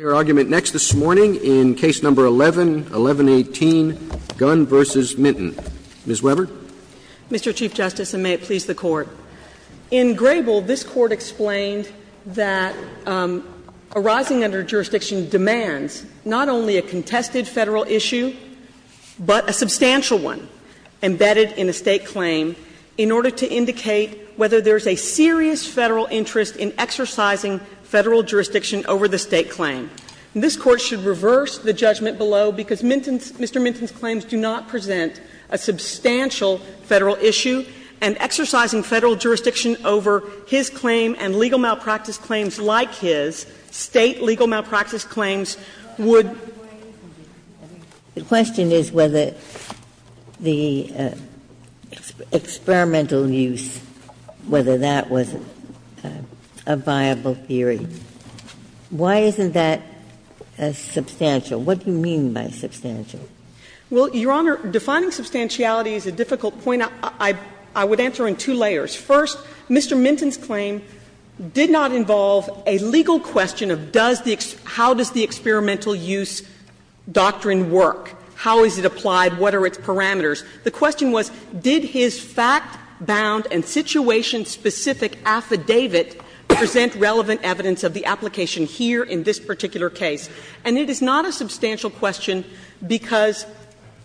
Mr. Chief Justice, and may it please the Court, in Grable, this Court explained that arising under jurisdiction demands not only a contested Federal issue, but a substantial one embedded in a State claim in order to indicate whether there is a serious Federal interest in exercising Federal jurisdiction over the State. And this Court should reverse the judgment below, because Mr. Minton's claims do not present a substantial Federal issue, and exercising Federal jurisdiction over his claim and legal malpractice claims like his, State legal malpractice claims, would. Ginsburg The question is whether the experimental use, whether that was a viable theory. Why isn't that a substantial? What do you mean by substantial? Well, Your Honor, defining substantiality is a difficult point. I would answer in two layers. First, Mr. Minton's claim did not involve a legal question of does the experimental use doctrine work, how is it applied, what are its parameters. The question was, did his fact-bound and situation-specific affidavit present a relevant evidence of the application here in this particular case. And it is not a substantial question because,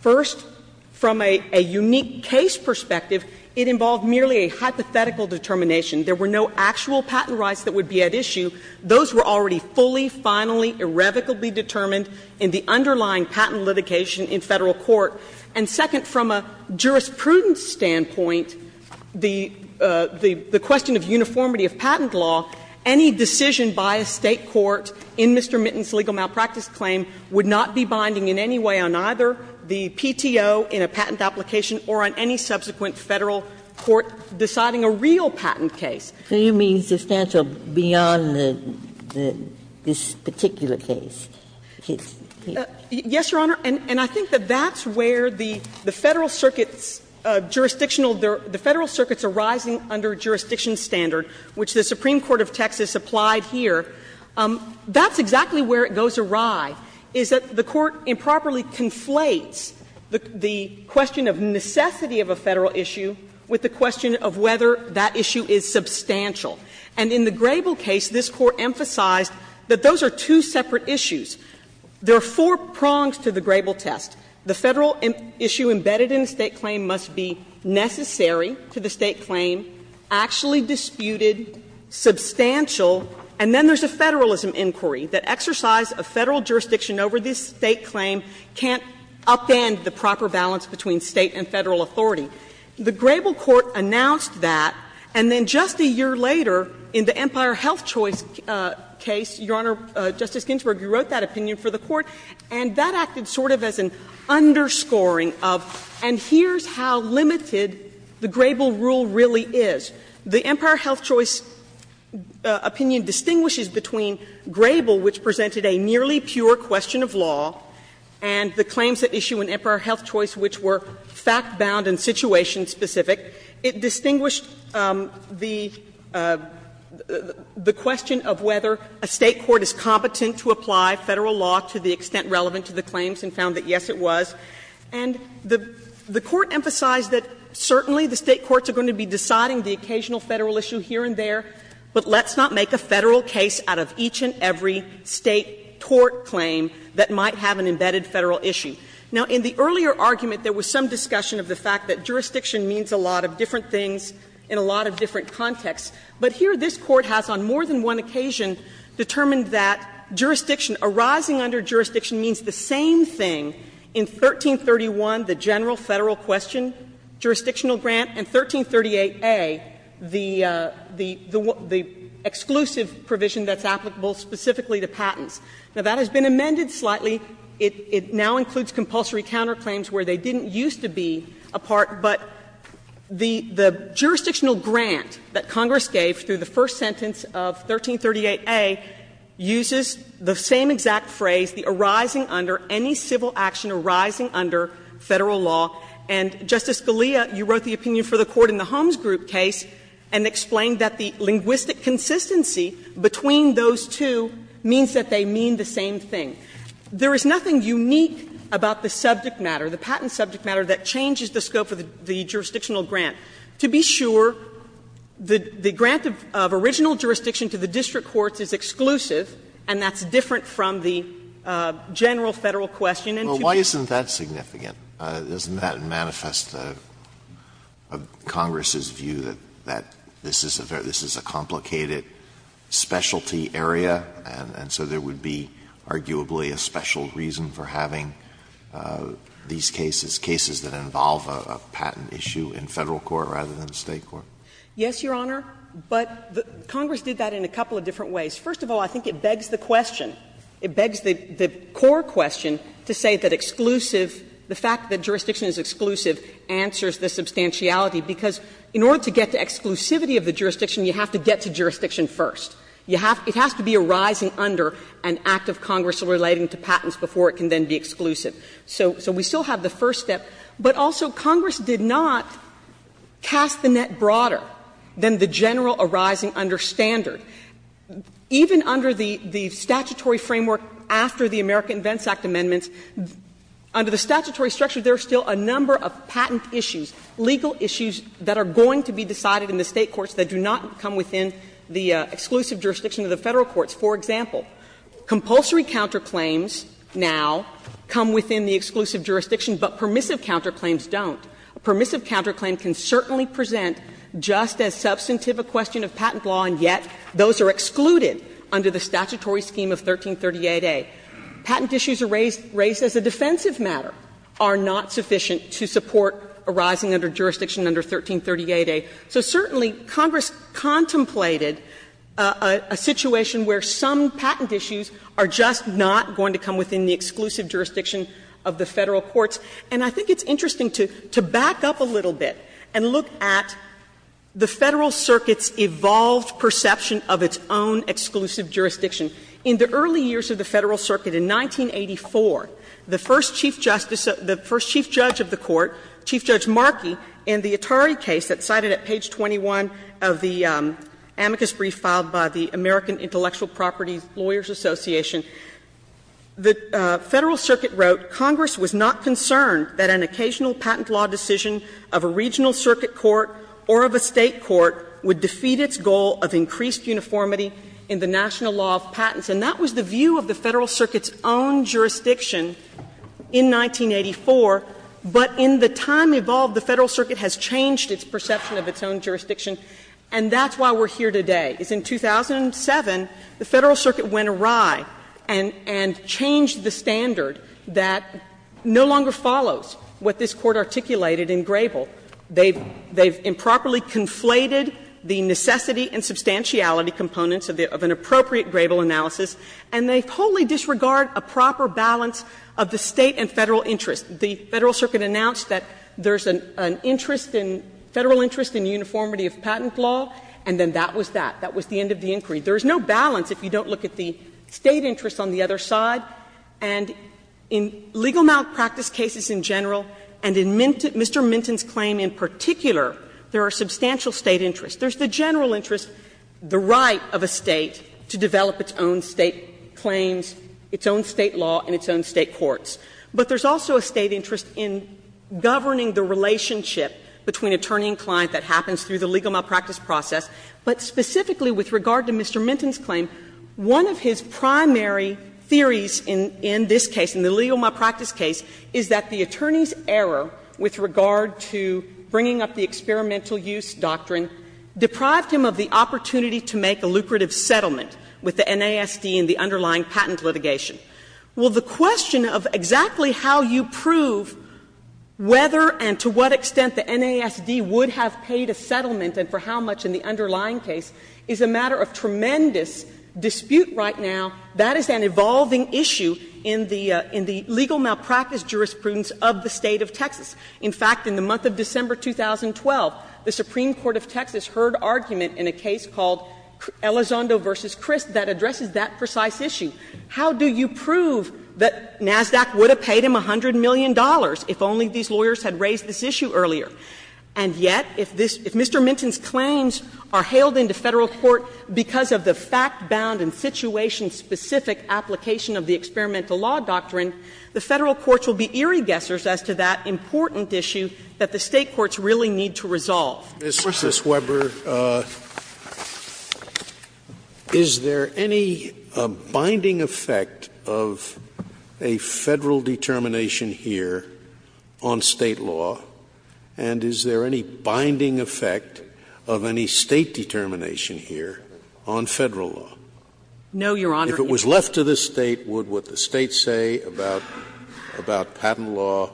first, from a unique case perspective, it involved merely a hypothetical determination. There were no actual patent rights that would be at issue. Those were already fully, finally, irrevocably determined in the underlying patent litigation in Federal court. And second, from a jurisprudence standpoint, the question of uniformity of patent law, any decision by a State court in Mr. Minton's legal malpractice claim would not be binding in any way on either the PTO in a patent application or on any subsequent Federal court deciding a real patent case. So you mean substantial beyond the this particular case? Yes, Your Honor. And I think that that's where the Federal circuits' jurisdictional the Federal circuits arising under jurisdiction standard, which the Supreme Court of Texas applied here, that's exactly where it goes awry, is that the court improperly conflates the question of necessity of a Federal issue with the question of whether that issue is substantial. And in the Grable case, this Court emphasized that those are two separate issues. There are four prongs to the Grable test. The Federal issue embedded in the State claim must be necessary to the State claim, actually disputed, substantial, and then there's a Federalism inquiry that exercise a Federal jurisdiction over this State claim can't upend the proper balance between State and Federal authority. The Grable court announced that, and then just a year later, in the Empire Health Choice case, Your Honor, Justice Ginsburg, you wrote that opinion for the court, and that acted sort of as an underscoring of, and here's how limited the Grable rule really is. The Empire Health Choice opinion distinguishes between Grable, which presented a nearly pure question of law, and the claims that issue in Empire Health Choice which were fact-bound and situation-specific. It distinguished the question of whether a State court is competent to apply Federal law to the extent relevant to the claims, and found that, yes, it was. And the Court emphasized that certainly the State courts are going to be deciding the occasional Federal issue here and there, but let's not make a Federal case out of each and every State tort claim that might have an embedded Federal issue. Now, in the earlier argument, there was some discussion of the fact that jurisdiction means a lot of different things in a lot of different contexts. But here, this Court has, on more than one occasion, determined that jurisdiction arising under jurisdiction means the same thing in 1331, the general Federal question jurisdictional grant, and 1338a, the exclusive provision that's applicable specifically to patents. Now, that has been amended slightly. It now includes compulsory counterclaims where they didn't used to be a part, but the jurisdictional grant that Congress gave through the first sentence of 1338a uses the same exact phrase, the arising under, any civil action arising under Federal law. And, Justice Scalia, you wrote the opinion for the Court in the Holmes Group case and explained that the linguistic consistency between those two means that they mean the same thing. There is nothing unique about the subject matter, the patent subject matter, that changes the scope of the jurisdictional grant. To be sure, the grant of original jurisdiction to the district courts is exclusive, and that's different from the general Federal question. and that's different from the general Federal question. Alito Well, why isn't that significant? Doesn't that manifest Congress's view that this is a complicated specialty area, and so there would be arguably a special reason for having these cases, cases that involve a patent issue in Federal court rather than State court? Yes, Your Honor, but Congress did that in a couple of different ways. First of all, I think it begs the question, it begs the core question to say that exclusive, the fact that jurisdiction is exclusive, answers the substantiality, because in order to get to exclusivity of the jurisdiction, you have to get to jurisdiction first. It has to be arising under an act of Congress relating to patents before it can then be exclusive. So we still have the first step, but also Congress did not cast the net broader than the general arising under standard. Even under the statutory framework after the American Vents Act amendments, under the statutory structure, there are still a number of patent issues, legal issues that are going to be decided in the State courts that do not come within the exclusive jurisdiction of the Federal courts. For example, compulsory counterclaims now come within the exclusive jurisdiction, but permissive counterclaims don't. A permissive counterclaim can certainly present just as substantive a question of patent law, and yet those are excluded under the statutory scheme of 1338A. Patent issues raised as a defensive matter are not sufficient to support arising under jurisdiction under 1338A. So certainly Congress contemplated a situation where some patent issues are just not going to come within the exclusive jurisdiction of the Federal courts. And I think it's interesting to back up a little bit and look at the Federal circuit's evolved perception of its own exclusive jurisdiction. In the early years of the Federal circuit, in 1984, the first Chief Justice of the Court, Chief Judge Markey, in the Atari case that's cited at page 21 of the amicus brief filed by the American Intellectual Properties Lawyers Association, the Federal circuit wrote, Congress was not concerned that an occasional patent law decision of a regional circuit court or of a State court would defeat its goal of increased uniformity in the national law of patents. And that was the view of the Federal circuit's own jurisdiction in 1984, but in the time evolved, the Federal circuit has changed its perception of its own jurisdiction, and that's why we're here today. Because in 2007, the Federal circuit went awry and changed the standard that no longer follows what this Court articulated in Grable. They've improperly conflated the necessity and substantiality components of an appropriate Grable analysis, and they wholly disregard a proper balance of the State and Federal interest. The Federal circuit announced that there's an interest in the Federal interest in uniformity of patent law, and then that was that. That was the end of the inquiry. There is no balance if you don't look at the State interest on the other side. And in legal malpractice cases in general and in Mr. Minton's claim in particular, there are substantial State interests. There's the general interest, the right of a State to develop its own State claims, its own State law, and its own State courts. But there's also a State interest in governing the relationship between attorney and client that happens through the legal malpractice process. But specifically with regard to Mr. Minton's claim, one of his primary theories in this case, in the legal malpractice case, is that the attorney's error with regard to bringing up the experimental use doctrine deprived him of the opportunity to make a lucrative settlement with the NASD in the underlying patent litigation. Well, the question of exactly how you prove whether and to what extent the NASD would have paid a settlement and for how much in the underlying case is a matter of tremendous dispute right now. That is an evolving issue in the legal malpractice jurisprudence of the State of Texas. In fact, in the month of December 2012, the Supreme Court of Texas heard argument in a case called Elizondo v. Crist that addresses that precise issue. How do you prove that NASD would have paid him $100 million if only these lawyers had raised this issue earlier? And yet, if this Mr. Minton's claims are hailed into Federal court because of the fact-bound and situation-specific application of the experimental law doctrine, the Federal courts will be eerie guessers as to that important issue that the State courts really need to resolve. Scalia. Sotomayor, is there any binding effect of a Federal determination here on State law, and is there any binding effect of any State determination here on Federal law? No, Your Honor. If it was left to the State, would what the State say about patent law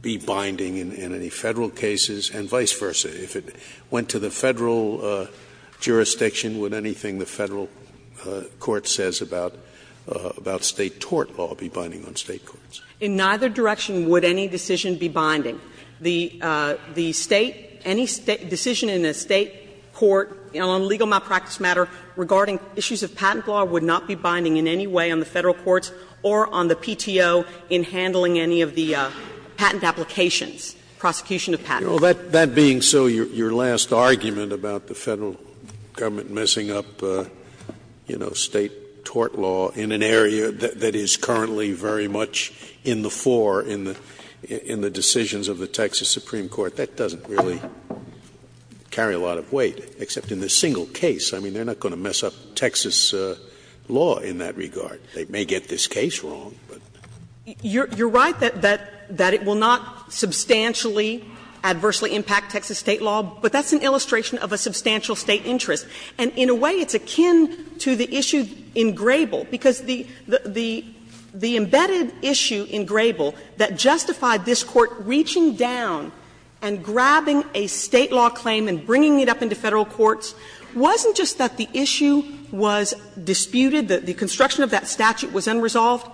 be binding in any Federal cases, and vice versa? If it went to the Federal jurisdiction, would anything the Federal court says about State tort law be binding on State courts? In neither direction would any decision be binding. The State, any decision in a State court on legal malpractice matter regarding issues of patent law would not be binding in any way on the Federal courts or on the PTO in handling any of the patent applications, prosecution of patents. That being so, your last argument about the Federal government messing up, you know, State tort law in an area that is currently very much in the fore in the decisions of the Texas Supreme Court, that doesn't really carry a lot of weight, except in this single case. I mean, they're not going to mess up Texas law in that regard. They may get this case wrong, but. You're right that it will not substantially, adversely impact Texas State law, but that's an illustration of a substantial State interest. And in a way, it's akin to the issue in Grable, because the embedded issue in Grable that justified this Court reaching down and grabbing a State law claim and bringing it up into Federal courts wasn't just that the issue was disputed, that the construction of that statute was unresolved,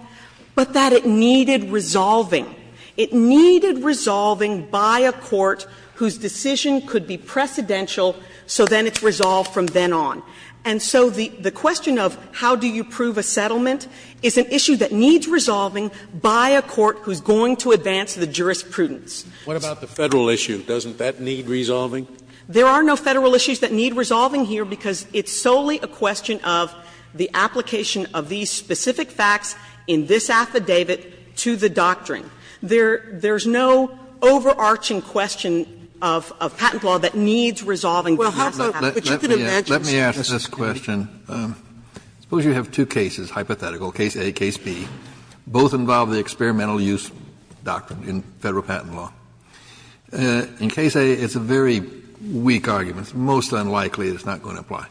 but that it needed resolving. It needed resolving by a court whose decision could be precedential, so then it's resolved from then on. And so the question of how do you prove a settlement is an issue that needs resolving by a court who's going to advance the jurisprudence. Scalia, what about the Federal issue? Doesn't that need resolving? There are no Federal issues that need resolving here, because it's solely a question of the application of these specific facts in this affidavit to the doctrine. There's no overarching question of patent law that needs resolving. Kennedy, which you could have mentioned. Kennedy, let me ask this question. Suppose you have two cases, hypothetical, case A and case B. Both involve the experimental use doctrine in Federal patent law. In case A, it's a very weak argument. It's most unlikely it's not going to apply.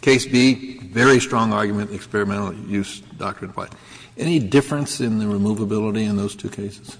Case B, very strong argument, experimental use doctrine applies. Any difference in the removability in those two cases?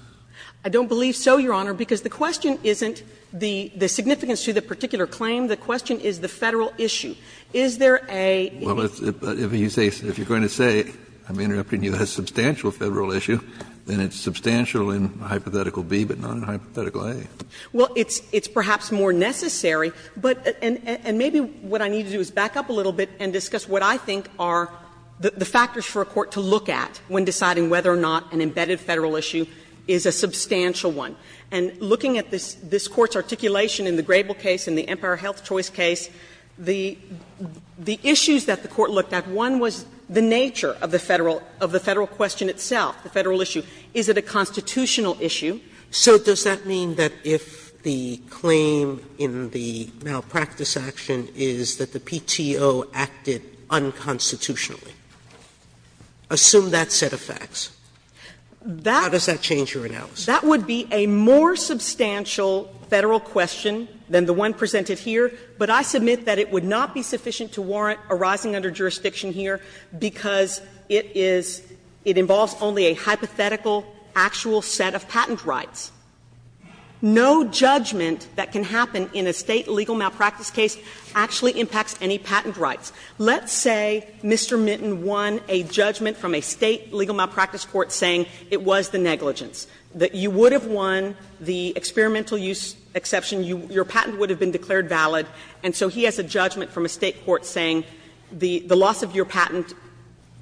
I don't believe so, Your Honor, because the question isn't the significance to the particular claim. The question is the Federal issue. Is there a issue? Well, if you say you're going to say, I'm interrupting you, that it's a substantial Federal issue, then it's substantial in hypothetical B, but not in hypothetical A. Well, it's perhaps more necessary, but and maybe what I need to do is back up a little bit and discuss what I think are the factors for a court to look at when deciding whether or not an embedded Federal issue is a substantial one. And looking at this Court's articulation in the Grable case and the Empire Health Choice case, the issues that the Court looked at, one was the nature of the Federal question itself, the Federal issue. Is it a constitutional issue? Sotomayor So does that mean that if the claim in the malpractice action is that the PTO acted unconstitutionally? Assume that set of facts. How does that change your analysis? That would be a more substantial Federal question than the one presented here, but I submit that it would not be sufficient to warrant a rising under jurisdiction here because it is, it involves only a hypothetical, actual set of patent rights. No judgment that can happen in a State legal malpractice case actually impacts any patent rights. Let's say Mr. Minton won a judgment from a State legal malpractice court saying it was the negligence, that you would have won the experimental use exception, your patent would have been declared valid, and so he has a judgment from a State court saying the loss of your patent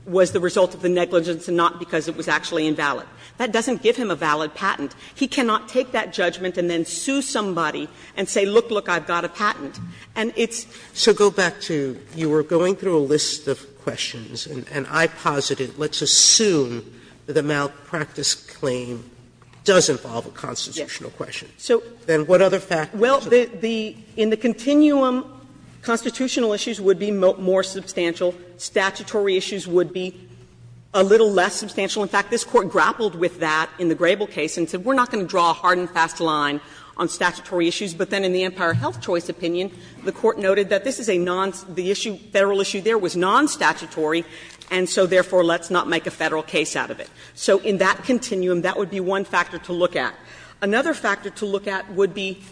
was the result of the negligence and not because it was actually invalid. That doesn't give him a valid patent. He cannot take that judgment and then sue somebody and say, look, look, I've got a patent. And it's so go back to you were going through a list of questions, and I posited let's assume that the malpractice claim does involve a constitutional question. Then what other factors? Well, the the in the continuum, constitutional issues would be more substantial. Statutory issues would be a little less substantial. In fact, this Court grappled with that in the Grable case and said we're not going to draw a hard and fast line on statutory issues. But then in the Empire Health Choice opinion, the Court noted that this is a non, the issue, Federal issue there was non-statutory, and so therefore let's not make a Federal case out of it. So in that continuum, that would be one factor to look at. Another factor to look at would be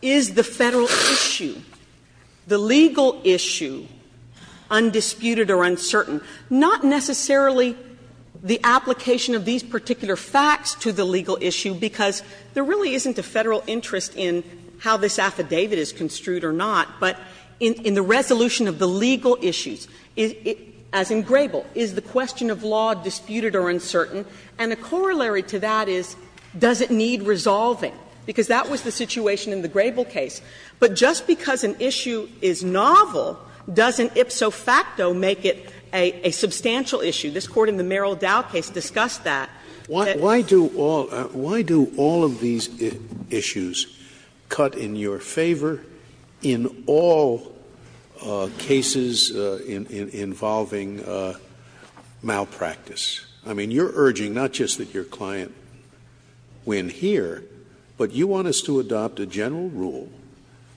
is the Federal issue, the legal issue, undisputed or uncertain? Not necessarily the application of these particular facts to the legal issue, because there really isn't a Federal interest in how this affidavit is construed or not, but in the resolution of the legal issues. As in Grable, is the question of law disputed or uncertain? And the corollary to that is, does it need resolving? Because that was the situation in the Grable case. But just because an issue is novel doesn't ipso facto make it a substantial issue. This Court in the Merrill Dowd case discussed that. Scalia. Why do all of these issues cut in your favor in all cases involving malpractice? I mean, you're urging not just that your client win here, but you want us to adopt a general rule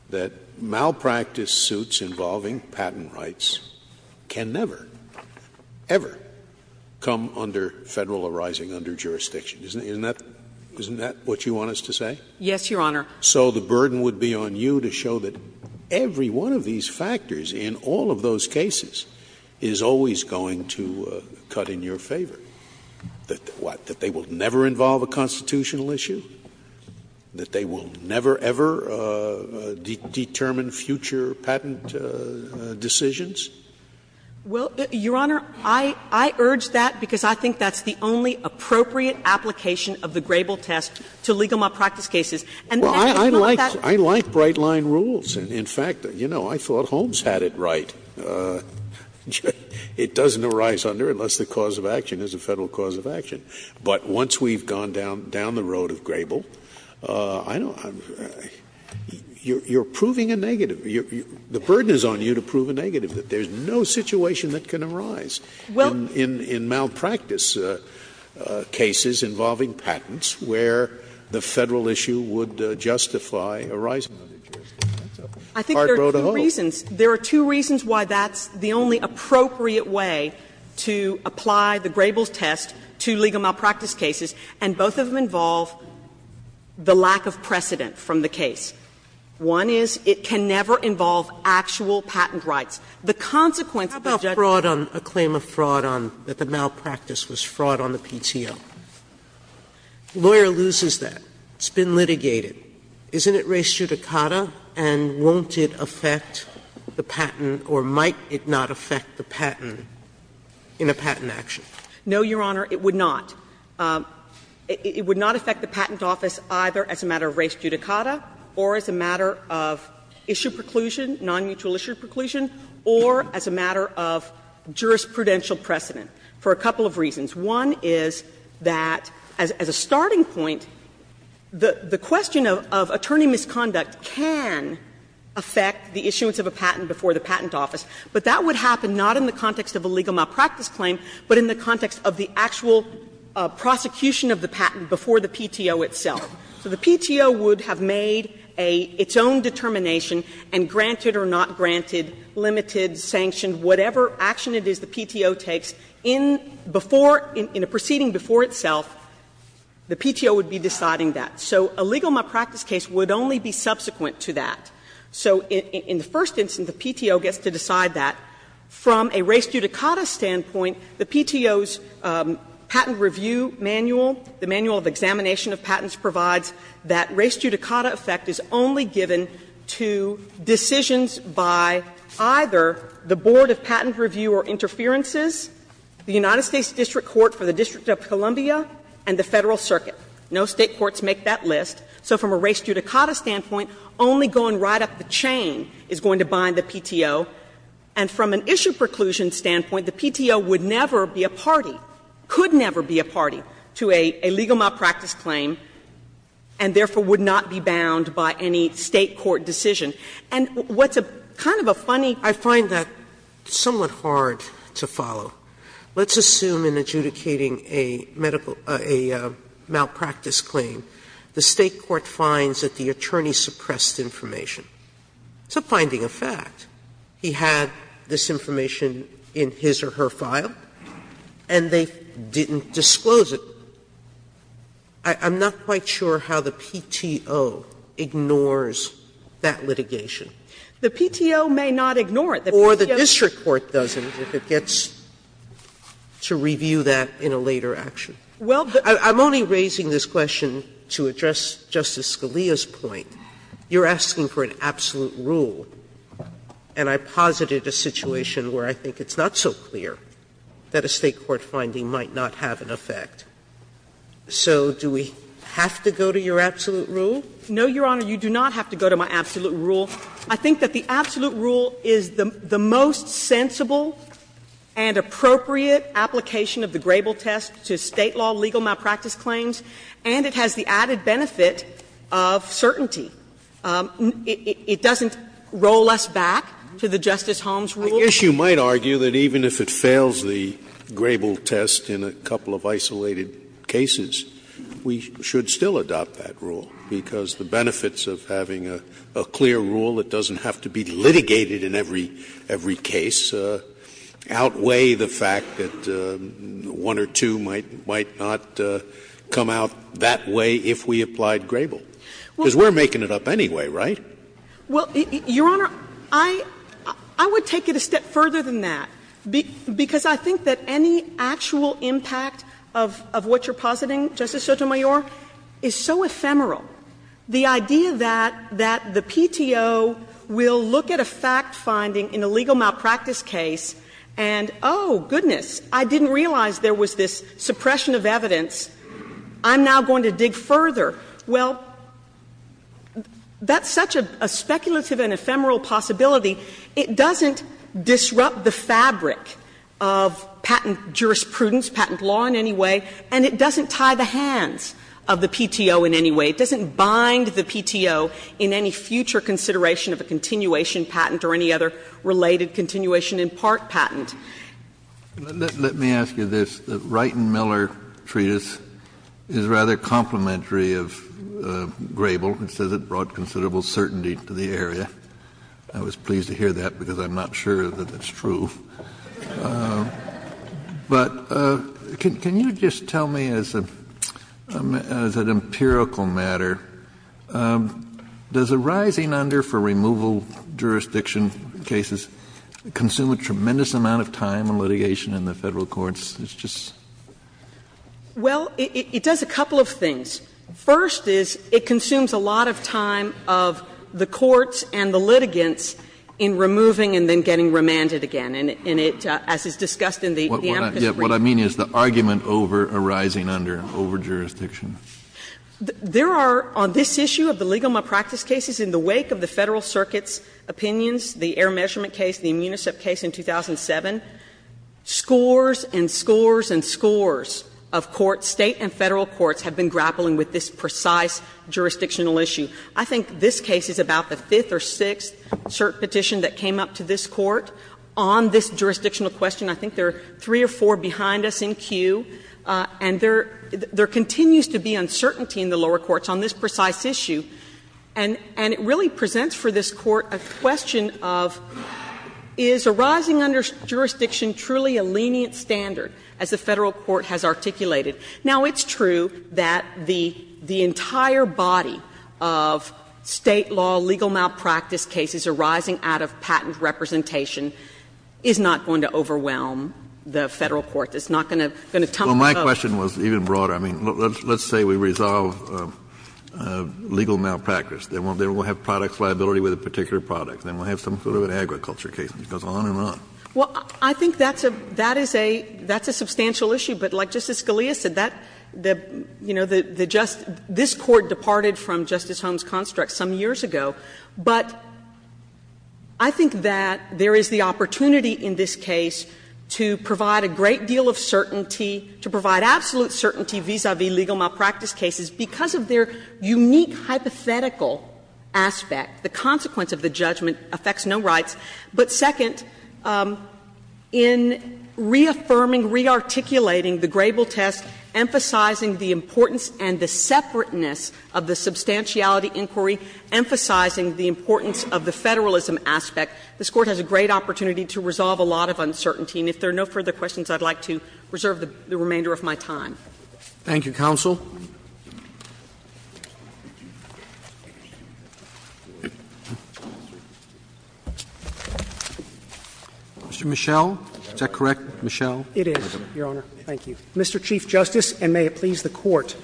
that malpractice suits involving patent rights can never, ever come under Federal arising under jurisdiction. Isn't that what you want us to say? Yes, Your Honor. So the burden would be on you to show that every one of these factors in all of those cases is always going to cut in your favor, that they will never involve a constitutional issue, that they will never, ever determine future patent decisions? Well, Your Honor, I urge that because I think that's the only appropriate application of the Grable test to legal malpractice cases. And that is not that. Well, I like bright-line rules. And in fact, you know, I thought Holmes had it right. It doesn't arise under unless the cause of action is a Federal cause of action. But once we've gone down the road of Grable, I don't know, you're proving a negative. The burden is on you to prove a negative, that there's no situation that can arise in malpractice cases involving patents where the Federal issue would justify arising under jurisdiction. That's a hard road to hoe. I think there are two reasons. There are two reasons why that's the only appropriate way to apply the Grable's test to legal malpractice cases, and both of them involve the lack of precedent from the case. One is it can never involve actual patent rights. The consequence of the judge's claim of fraud on the malpractice was fraud on the PTO. The lawyer loses that. It's been litigated. Isn't it res judicata? And won't it affect the patent, or might it not affect the patent in a patent action? No, Your Honor, it would not. It would not affect the patent office either as a matter of res judicata or as a matter of issue preclusion, nonmutual issue preclusion, or as a matter of jurisprudential precedent for a couple of reasons. One is that, as a starting point, the question of attorney misconduct can affect the issuance of a patent before the patent office, but that would happen not in the context of a legal malpractice claim, but in the context of the actual prosecution of the patent before the PTO itself. So the PTO would have made a its own determination and granted or not granted, limited, sanctioned, whatever action it is the PTO takes in before, in a proceeding before itself, the PTO would be deciding that. So a legal malpractice case would only be subsequent to that. So in the first instance, the PTO gets to decide that. From a res judicata standpoint, the PTO's patent review manual, the manual of examination of patents provides that res judicata effect is only given to decisions by the PTO by either the Board of Patent Review or Interferences, the United States District Court for the District of Columbia, and the Federal Circuit. No State courts make that list. So from a res judicata standpoint, only going right up the chain is going to bind the PTO. And from an issue preclusion standpoint, the PTO would never be a party, could never be a party to a legal malpractice claim, and therefore would not be bound by any State court decision. And what's a kind of a funny Sotomayor's Court, I find that somewhat hard to follow. Let's assume in adjudicating a medical – a malpractice claim, the State court finds that the attorney suppressed information. It's a finding of fact. He had this information in his or her file, and they didn't disclose it. I'm not quite sure how the PTO ignores that litigation. The PTO may not ignore it. Or the district court doesn't if it gets to review that in a later action. Well, but I'm only raising this question to address Justice Scalia's point. You're asking for an absolute rule, and I posited a situation where I think it's not so clear that a State court finding might not have an effect. So do we have to go to your absolute rule? No, Your Honor, you do not have to go to my absolute rule. I think that the absolute rule is the most sensible and appropriate application of the Grable test to State law legal malpractice claims, and it has the added benefit of certainty. It doesn't roll us back to the Justice Holmes rule. Scalia, I guess you might argue that even if it fails the Grable test in a couple of isolated cases, we should still adopt that rule, because the benefits of having a clear rule that doesn't have to be litigated in every case outweigh the fact that one or two might not come out that way if we applied Grable, because we're making it up anyway, right? Well, Your Honor, I would take it a step further than that, because I think that any actual impact of what you're positing, Justice Sotomayor, is so ephemeral. The idea that the PTO will look at a fact-finding in a legal malpractice case and, oh, goodness, I didn't realize there was this suppression of evidence, I'm now going to dig further. Well, that's such a speculative and ephemeral possibility. It doesn't disrupt the fabric of patent jurisprudence, patent law in any way, and it doesn't tie the hands of the PTO in any way. It doesn't bind the PTO in any future consideration of a continuation patent or any other related continuation in part patent. Let me ask you this. The Wright and Miller Treatise is rather complimentary of Grable. It says it brought considerable certainty to the area. I was pleased to hear that, because I'm not sure that that's true. But can you just tell me, as an empirical matter, does a rising under for removal jurisdiction cases consume a tremendous amount of time and litigation in the Federal courts? It's just — Well, it does a couple of things. First is, it consumes a lot of time of the courts and the litigants in removing and then getting remanded again, and it, as is discussed in the amicus brief. What I mean is the argument over a rising under, over jurisdiction. There are, on this issue of the legal malpractice cases, in the wake of the Federal Circuit's opinions, the Air Measurement case, the Immunicep case in 2007, scores and scores and scores of courts, State and Federal courts, have been grappling with this precise jurisdictional issue. I think this case is about the fifth or sixth cert petition that came up to this court on this jurisdictional question. I think there are three or four behind us in queue, and there continues to be uncertainty in the lower courts on this precise issue. And it really presents for this Court a question of, is a rising under jurisdiction truly a lenient standard, as the Federal court has articulated? Now, it's true that the entire body of State law legal malpractice cases arising out of patent representation is not going to overwhelm the Federal court. It's not going to tumble over. Well, my question was even broader. I mean, let's say we resolve legal malpractice. Then we'll have product liability with a particular product. Then we'll have some sort of an agriculture case, and it goes on and on. Well, I think that's a — that is a — that's a substantial issue. But like Justice Scalia said, that — you know, the just — this Court departed from Justice Holmes' construct some years ago. But I think that there is the opportunity in this case to provide a great deal of certainty, to provide absolute certainty vis-a-vis legal malpractice cases, because of their unique hypothetical aspect. The consequence of the judgment affects no rights. But second, in reaffirming, rearticulating the Grable test, emphasizing the importance and the separateness of the substantiality inquiry, emphasizing the importance of the Federalism aspect, this Court has a great opportunity to resolve a lot of uncertainty. And if there are no further questions, I'd like to reserve the remainder of my time. Thank you, counsel. Mr. Michel, is that correct, Michel? It is, Your Honor. Thank you. Mr. Chief Justice, and may it please the Court,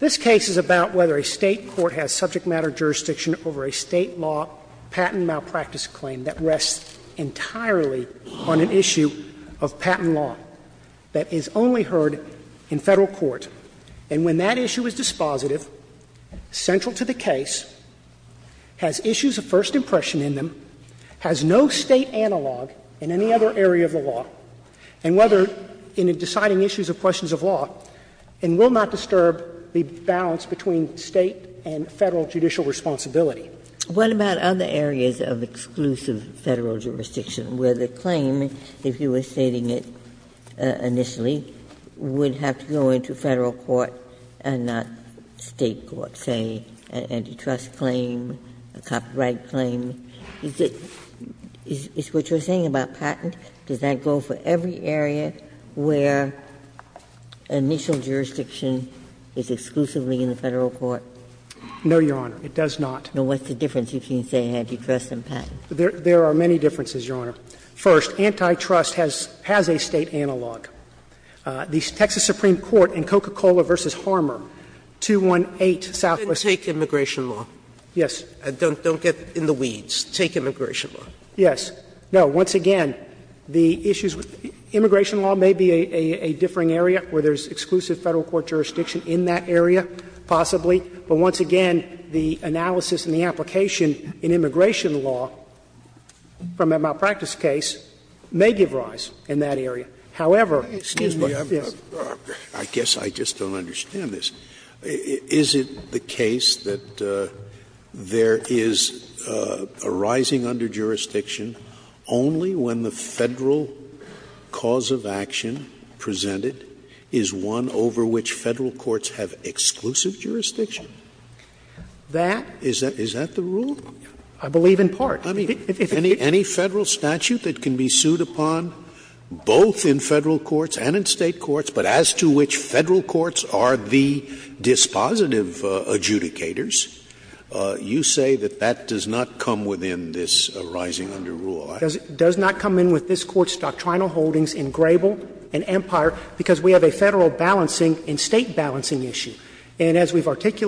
this case is about whether a State court has subject matter jurisdiction over a State law patent malpractice claim that rests entirely on an issue of patent law that is only heard in Federal court. And when that issue is dispositive, central to the case, has issues of first impression in them, has no State analog in any other area of the law, and whether in deciding issues of questions of law, and will not disturb the balance between State and Federal judicial responsibility. What about other areas of exclusive Federal jurisdiction, where the claim, if you were stating it initially, would have to go into Federal court and not State court, say, an antitrust claim, a copyright claim? Is it what you're saying about patent? Does that go for every area where initial jurisdiction is exclusively in the Federal court? No, Your Honor. It does not. What's the difference between, say, antitrust and patent? There are many differences, Your Honor. First, antitrust has a State analog. The Texas Supreme Court in Coca-Cola v. Harmer, 218 Southwest. Then take immigration law. Yes. Don't get in the weeds. Take immigration law. Yes. No. Once again, the issues with immigration law may be a differing area where there's exclusive Federal court jurisdiction in that area, possibly, but once again, the analysis and the application in immigration law from a malpractice case may give rise in that area. However, excuse me. Yes. Scalia. I guess I just don't understand this. Is it the case that there is a rising under jurisdiction only when the Federal cause of action presented is one over which Federal courts have exclusive jurisdiction? That is a different case. Is that the rule? I believe in part. I mean, any Federal statute that can be sued upon both in Federal courts and in State courts, but as to which Federal courts are the dispositive adjudicators, you say that that does not come within this rising under rule. It does not come in with this Court's doctrinal holdings in Grable and Empire because we have a Federal balancing and State balancing issue. Do you have a case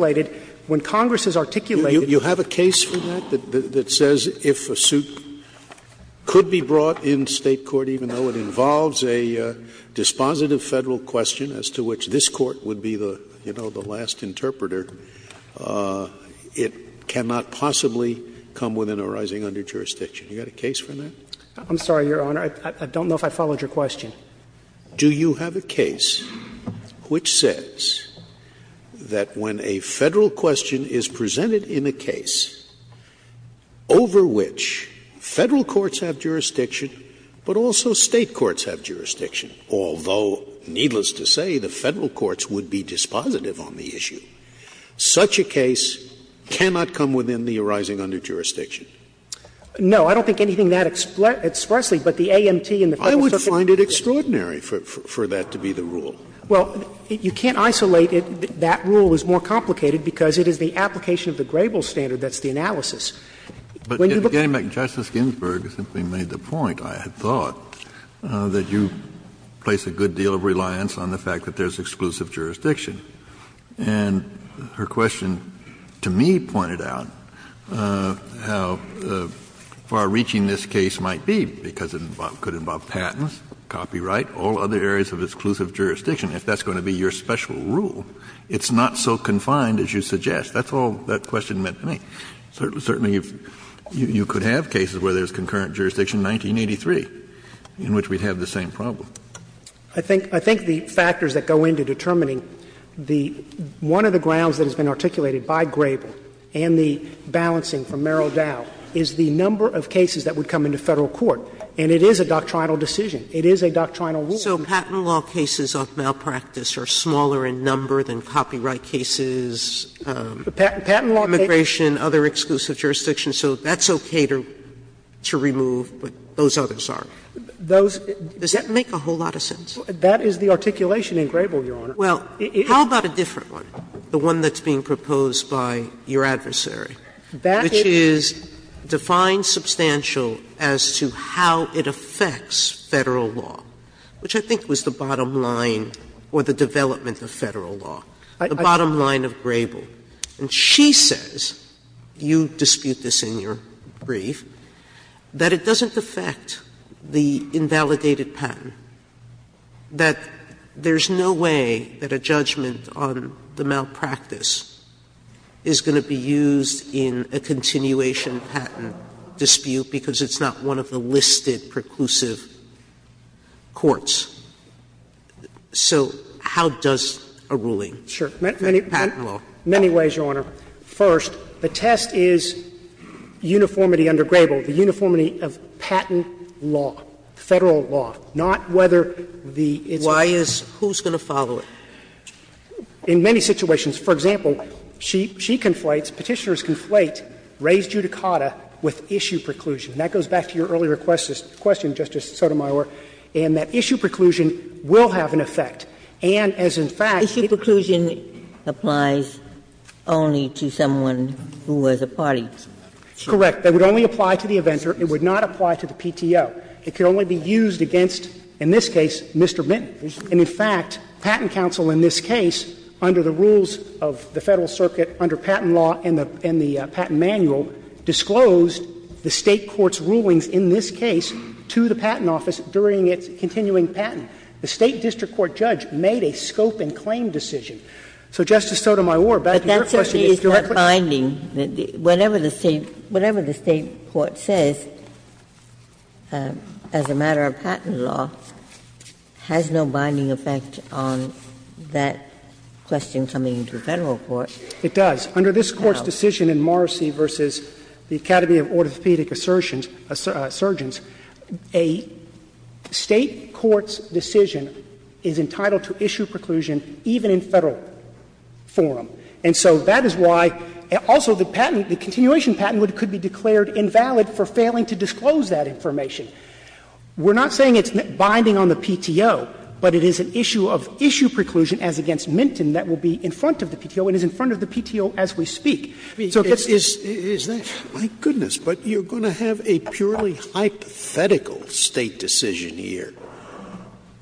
for that that says if a suit could be brought in State court, even though it involves a dispositive Federal question as to which this Court would be, you know, the last interpreter, it cannot possibly come within a rising under jurisdiction? Do you have a case for that? I'm sorry, Your Honor, I don't know if I followed your question. Do you have a case which says that when a Federal question is presented in a case over which Federal courts have jurisdiction, but also State courts have jurisdiction, although, needless to say, the Federal courts would be dispositive on the issue, such a case cannot come within the arising under jurisdiction? No. I don't think anything that sparsely, but the AMT and the Federal circuit. Scalia I would find it extraordinary for that to be the rule. Well, you can't isolate it. That rule is more complicated because it is the application of the Grable standard that's the analysis. When you look at it. Kennedy But, again, Justice Ginsburg simply made the point, I had thought, that you place a good deal of reliance on the fact that there's exclusive jurisdiction. And her question to me pointed out how far-reaching this case might be because it could involve patents, copyright, all other areas of exclusive jurisdiction. If that's going to be your special rule, it's not so confined as you suggest. That's all that question meant to me. Certainly, you could have cases where there's concurrent jurisdiction, 1983, in which we'd have the same problem. I think the factors that go into determining the one of the grounds that has been articulated by Grable and the balancing from Merrill Dow is the number of cases that would come into Federal court. And it is a doctrinal decision. It is a doctrinal rule. Sotomayor So patent law cases of malpractice are smaller in number than copyright cases. Patent law cases. Sotomayor Immigration, other exclusive jurisdictions. So that's okay to remove, but those others aren't. Does that make a whole lot of sense? That is the articulation in Grable, Your Honor. Well, how about a different one, the one that's being proposed by your adversary, which is defined substantial as to how it affects Federal law, which I think was the bottom line or the development of Federal law, the bottom line of Grable. And she says, you dispute this in your brief, that it doesn't affect the invalidated patent, that there's no way that a judgment on the malpractice is going to be used in a continuation patent dispute because it's not one of the listed preclusive courts. So how does a ruling? Sure. Many ways, Your Honor. First, the test is uniformity under Grable, the uniformity of patent law, Federal law, not whether the its own. Why is — who's going to follow it? In many situations, for example, she conflates, Petitioners conflate Reyes-Judicata with issue preclusion. That goes back to your earlier question, Justice Sotomayor, in that issue preclusion will have an effect. And as, in fact, it's a preclusion that applies only to someone who has a party. Correct. That would only apply to the inventor. It would not apply to the PTO. It can only be used against, in this case, Mr. Mitton. And, in fact, Patent Council in this case, under the rules of the Federal circuit, under patent law and the patent manual, disclosed the State court's rulings in this case to the Patent Office during its continuing patent. The State district court judge made a scope and claim decision. So, Justice Sotomayor, back to your question. But that certainly is not binding. Whatever the State court says, as a matter of patent law, has no binding effect on that question coming to Federal court. It does. Under this Court's decision in Morrissey v. The Academy of Orthopedic Surgeons, a State court's decision is entitled to issue preclusion even in Federal forum. And so that is why also the patent, the continuation patent could be declared invalid for failing to disclose that information. We're not saying it's binding on the PTO, but it is an issue of issue preclusion as against Mitton that will be in front of the PTO and is in front of the PTO as we So it's just the State court's decision. Scalia, my goodness, but you're going to have a purely hypothetical State decision here.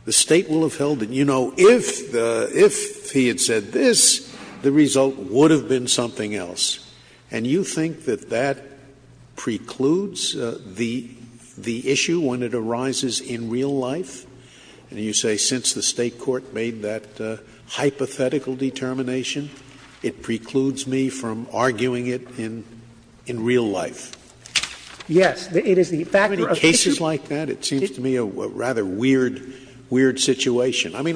The State will have held it. You know, if he had said this, the result would have been something else. And you think that that precludes the issue when it arises in real life? You say since the State court made that hypothetical determination, it precludes me from arguing it in real life. Yes. It is the factor of issue. Do you have any cases like that? It seems to me a rather weird situation. I mean,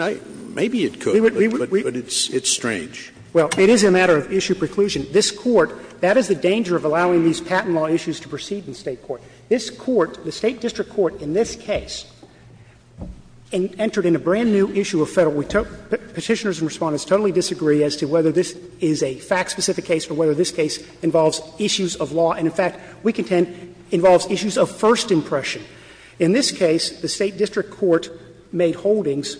maybe it could, but it's strange. Well, it is a matter of issue preclusion. This Court, that is the danger of allowing these patent law issues to proceed in the State court. This Court, the State district court in this case, entered in a brand new issue of Federal. Petitioners and Respondents totally disagree as to whether this is a fact-specific case or whether this case involves issues of law. And, in fact, we contend it involves issues of first impression. In this case, the State district court made holdings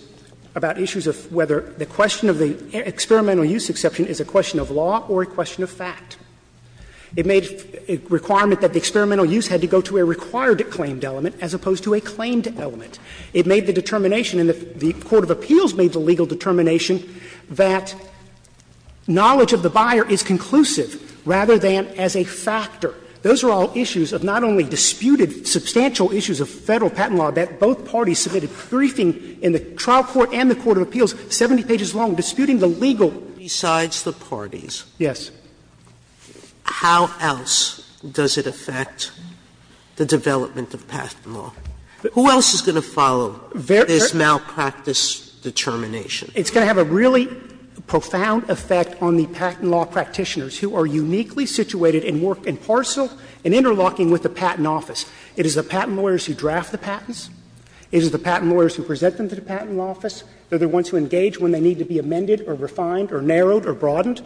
about issues of whether the question of the experimental use exception is a question of law or a question of fact. It made a requirement that the experimental use had to go to a required claimed element as opposed to a claimed element. It made the determination, and the court of appeals made the legal determination Those are all issues of not only disputed substantial issues of Federal patent law that both parties submitted briefing in the trial court and the court of appeals 70 pages long disputing the legal. Sotomayor, besides the parties, how else does it affect the development of patent law? Who else is going to follow this malpractice determination? It's going to have a really profound effect on the patent law practitioners who are uniquely situated and work in parcel and interlocking with the patent office. It is the patent lawyers who draft the patents. It is the patent lawyers who present them to the patent office. They are the ones who engage when they need to be amended or refined or narrowed or broadened.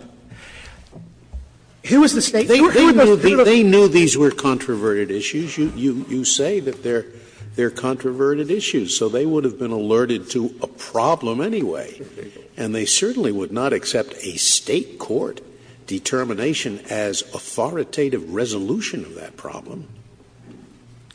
Who is the State? Who are the Federal? Scalia, They knew these were controverted issues. You say that they are controverted issues. So they would have been alerted to a problem anyway. And they certainly would not accept a State court determination as authoritative resolution of that problem.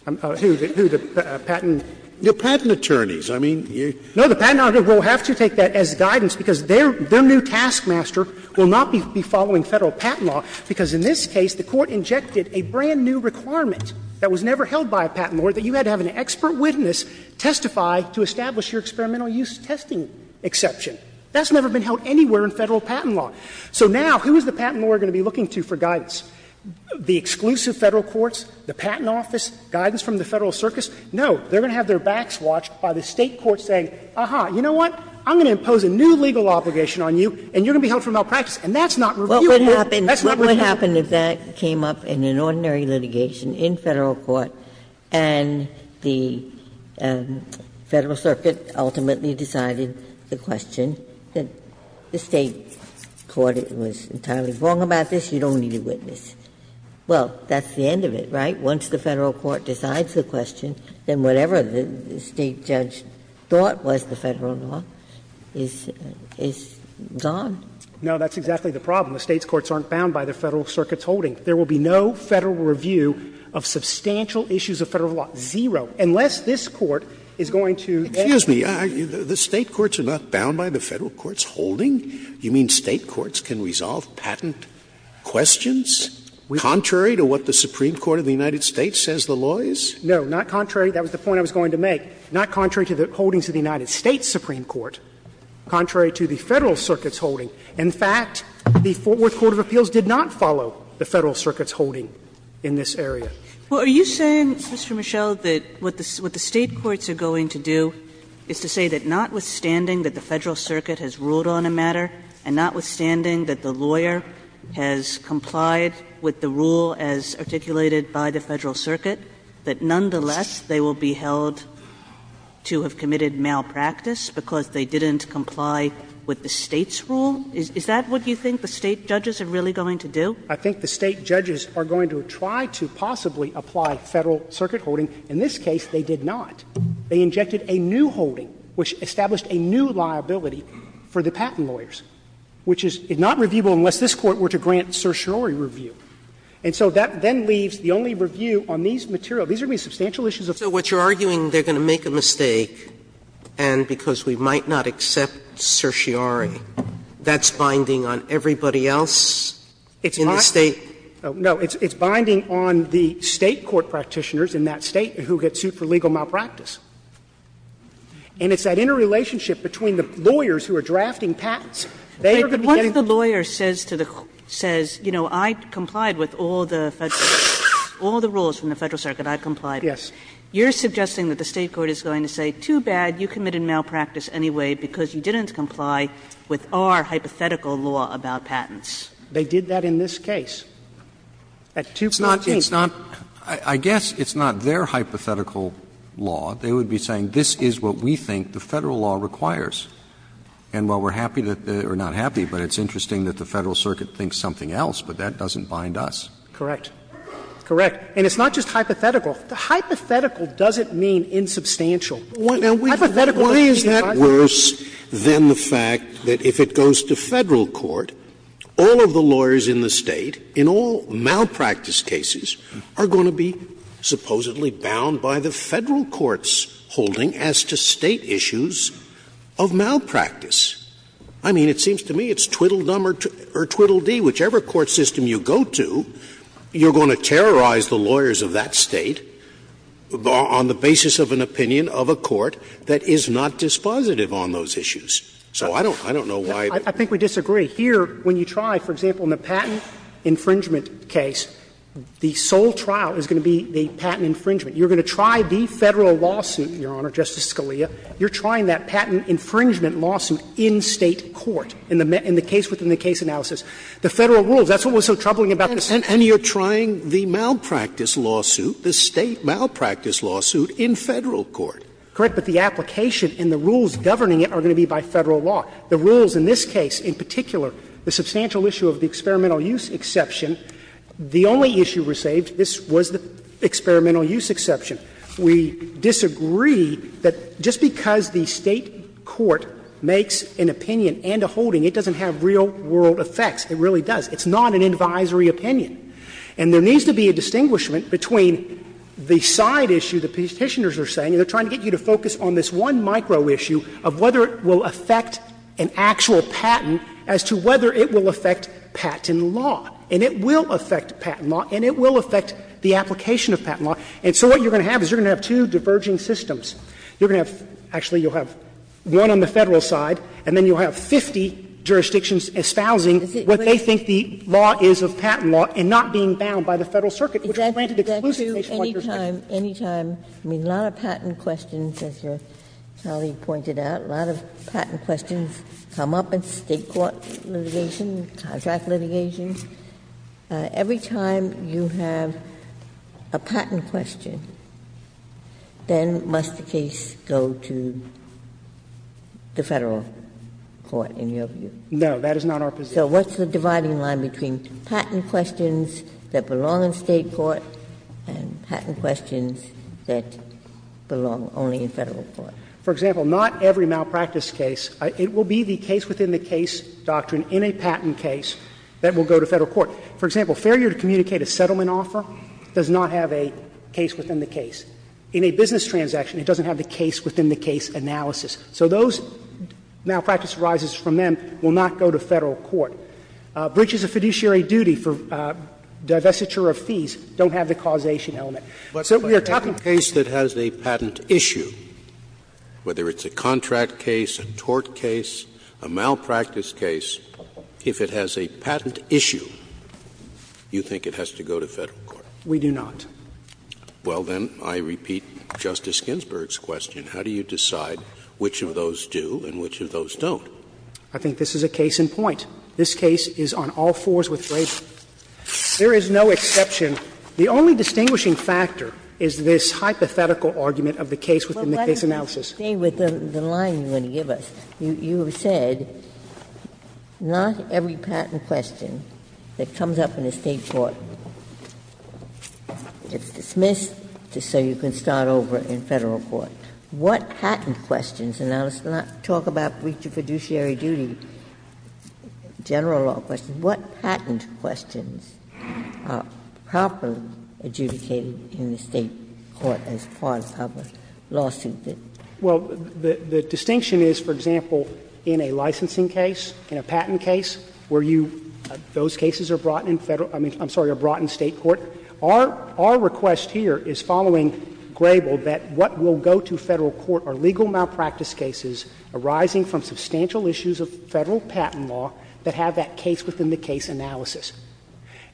Who? The patent? The patent attorneys. I mean, you're No, the patent attorney will have to take that as guidance because their new taskmaster will not be following Federal patent law, because in this case the court injected a brand-new requirement that was never held by a patent lawyer, that you had to have an expert witness testify to establish your experimental use testing exception. That's never been held anywhere in Federal patent law. So now, who is the patent lawyer going to be looking to for guidance? The exclusive Federal courts, the patent office, guidance from the Federal Circus? No. They are going to have their backs watched by the State court saying, aha, you know what, I'm going to impose a new legal obligation on you and you're going to be held for malpractice. And that's not reviewable. That's not reviewable. Ginsburg's question is, what would happen if that came up in an ordinary litigation in Federal court and the Federal circuit ultimately decided the question that the State court was entirely wrong about this, you don't need a witness? Well, that's the end of it, right? Once the Federal court decides the question, then whatever the State judge thought was the Federal law is gone. No, that's exactly the problem. The State's courts aren't bound by the Federal circuit's holding. There will be no Federal review of substantial issues of Federal law, zero, unless this Court is going to add to that. Scalia, the State courts are not bound by the Federal court's holding? You mean State courts can resolve patent questions contrary to what the Supreme Court of the United States says the law is? No, not contrary. That was the point I was going to make. Not contrary to the holdings of the United States Supreme Court, contrary to the Federal circuit's holding. In fact, the Fort Worth Court of Appeals did not follow the Federal circuit's holding in this area. Kagan, are you saying, Mr. Michel, that what the State courts are going to do is to say that notwithstanding that the Federal circuit has ruled on a matter and notwithstanding that the lawyer has complied with the rule as articulated by the Federal circuit, that nonetheless they will be held to have committed malpractice because they didn't comply with the State's rule? Is that what you think the State judges are really going to do? I think the State judges are going to try to possibly apply Federal circuit holding. In this case, they did not. They injected a new holding, which established a new liability for the patent lawyers, which is not reviewable unless this Court were to grant certiorari review. And so that then leaves the only review on these material. These are going to be substantial issues of Federal law. Sotomayor, that certiorari, that's binding on everybody else in the State? No, it's binding on the State court practitioners in that State who get sued for legal malpractice. And it's that interrelationship between the lawyers who are drafting patents. They are going to be getting. Kagan, once the lawyer says to the court, says, you know, I complied with all the Federal rules, all the rules from the Federal circuit, I complied with, you're suggesting that the State court is going to say, too bad, you committed malpractice anyway, because you didn't comply with our hypothetical law about patents. They did that in this case, at 214. It's not, it's not, I guess it's not their hypothetical law. They would be saying, this is what we think the Federal law requires. And while we're happy, or not happy, but it's interesting that the Federal circuit thinks something else, but that doesn't bind us. Correct. Correct. And it's not just hypothetical. Hypothetical doesn't mean insubstantial. Hypothetical means that. Scalia, I mean, it seems to me it's twiddle-dum or twiddle-dee, whichever court system you go to, you're going to terrorize the lawyers of that State on the basis of an opinion of a court that is not dispositive. It's going to do that. It's going to do that. And they're going to be very sensitive on those issues. So I don't know why. I think we disagree. Here, when you try, for example, in the patent infringement case, the sole trial is going to be the patent infringement. You're going to try the Federal lawsuit, Your Honor, Justice Scalia. You're trying that patent infringement lawsuit in State court in the case within the case analysis. The Federal rules, that's what was so troubling about this case. And you're trying the malpractice lawsuit, the State malpractice lawsuit, in Federal court. Correct. But the application and the rules governing it are going to be by Federal law. The rules in this case, in particular, the substantial issue of the experimental use exception, the only issue we're saved, this was the experimental use exception. We disagree that just because the State court makes an opinion and a holding, it doesn't have real-world effects. It really does. It's not an advisory opinion. And there needs to be a distinguishment between the side issue the Petitioners are saying, and they're trying to get you to focus on this one micro issue of whether it will affect an actual patent as to whether it will affect patent law. And it will affect patent law, and it will affect the application of patent law. And so what you're going to have is you're going to have two diverging systems. You're going to have one on the Federal side, and then you'll have 50 jurisdictions espousing what they think the law is of patent law and not being bound by the Federal circuit, which granted exclusive patient-like jurisdiction. Ginsburg. Any time, I mean, a lot of patent questions, as your colleague pointed out, a lot of patent questions come up in State court litigation, contract litigation. Every time you have a patent question, then must the case go to the Federal court, in your view? No, that is not our position. So what's the dividing line between patent questions that belong in State court and patent questions that belong only in Federal court? For example, not every malpractice case, it will be the case-within-the-case doctrine in a patent case that will go to Federal court. For example, failure to communicate a settlement offer does not have a case-within- the-case. In a business transaction, it doesn't have the case-within-the-case analysis. So those malpractice arises from them, will not go to Federal court. Breaches of fiduciary duty for divestiture of fees don't have the causation element. So we are talking about a case that has a patent issue, whether it's a contract case, a tort case, a malpractice case, if it has a patent issue, you think it has to go to Federal court. We do not. Well, then, I repeat Justice Ginsburg's question. How do you decide which of those do and which of those don't? I think this is a case in point. This case is on all fours with labor. There is no exception. The only distinguishing factor is this hypothetical argument of the case-within- the-case analysis. Ginsburg. But let me just stay with the line you're going to give us. You have said not every patent question that comes up in a State court is a patent question. It's dismissed so you can start over in Federal court. What patent questions, and I'll talk about breach of fiduciary duty, general law questions. What patent questions are properly adjudicated in the State court as part of a public lawsuit? Well, the distinction is, for example, in a licensing case, in a patent case, where you – those cases are brought in Federal – I'm sorry, are brought in State court. Our request here is, following Grable, that what will go to Federal court are legal malpractice cases arising from substantial issues of Federal patent law that have that case-within-the-case analysis.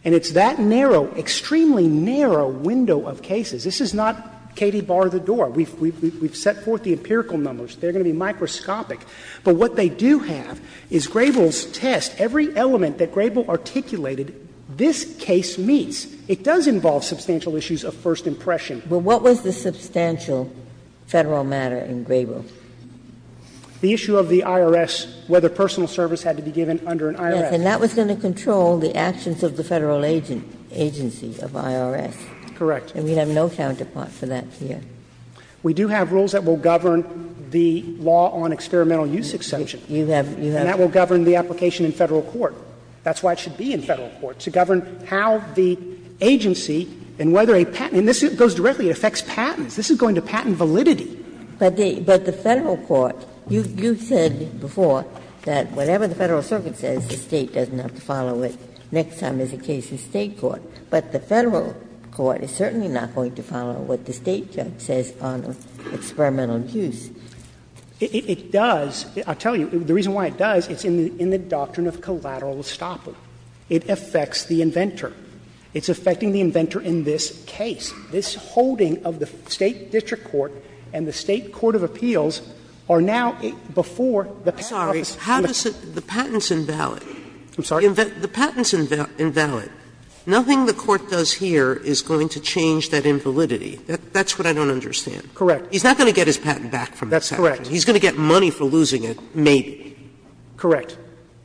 And it's that narrow, extremely narrow window of cases. This is not Katie, bar the door. We've set forth the empirical numbers. They're going to be microscopic. But what they do have is Grable's test. Every element that Grable articulated, this case meets. It does involve substantial issues of first impression. But what was the substantial Federal matter in Grable? The issue of the IRS, whether personal service had to be given under an IRS. Yes. And that was going to control the actions of the Federal agency of IRS. Correct. And we have no counterpart for that here. We do have rules that will govern the law on experimental use exception. You have – you have. And that will govern the application in Federal court. That's why it should be in Federal court, to govern how the agency and whether a patent – and this goes directly, it affects patents. This is going to patent validity. But the Federal court, you said before that whatever the Federal circuit says, the State doesn't have to follow it next time there's a case in State court. But the Federal court is certainly not going to follow what the State judge says on experimental use. It does. I'll tell you, the reason why it does, it's in the doctrine of collateral estoppel. It affects the inventor. It's affecting the inventor in this case. This holding of the State district court and the State court of appeals are now before the patent office. Sotomayor, how does it – the patent's invalid. I'm sorry? The patent's invalid. Nothing the Court does here is going to change that invalidity. That's what I don't understand. Correct. He's not going to get his patent back from the section. That's correct. He's going to get money for losing it, maybe. Correct.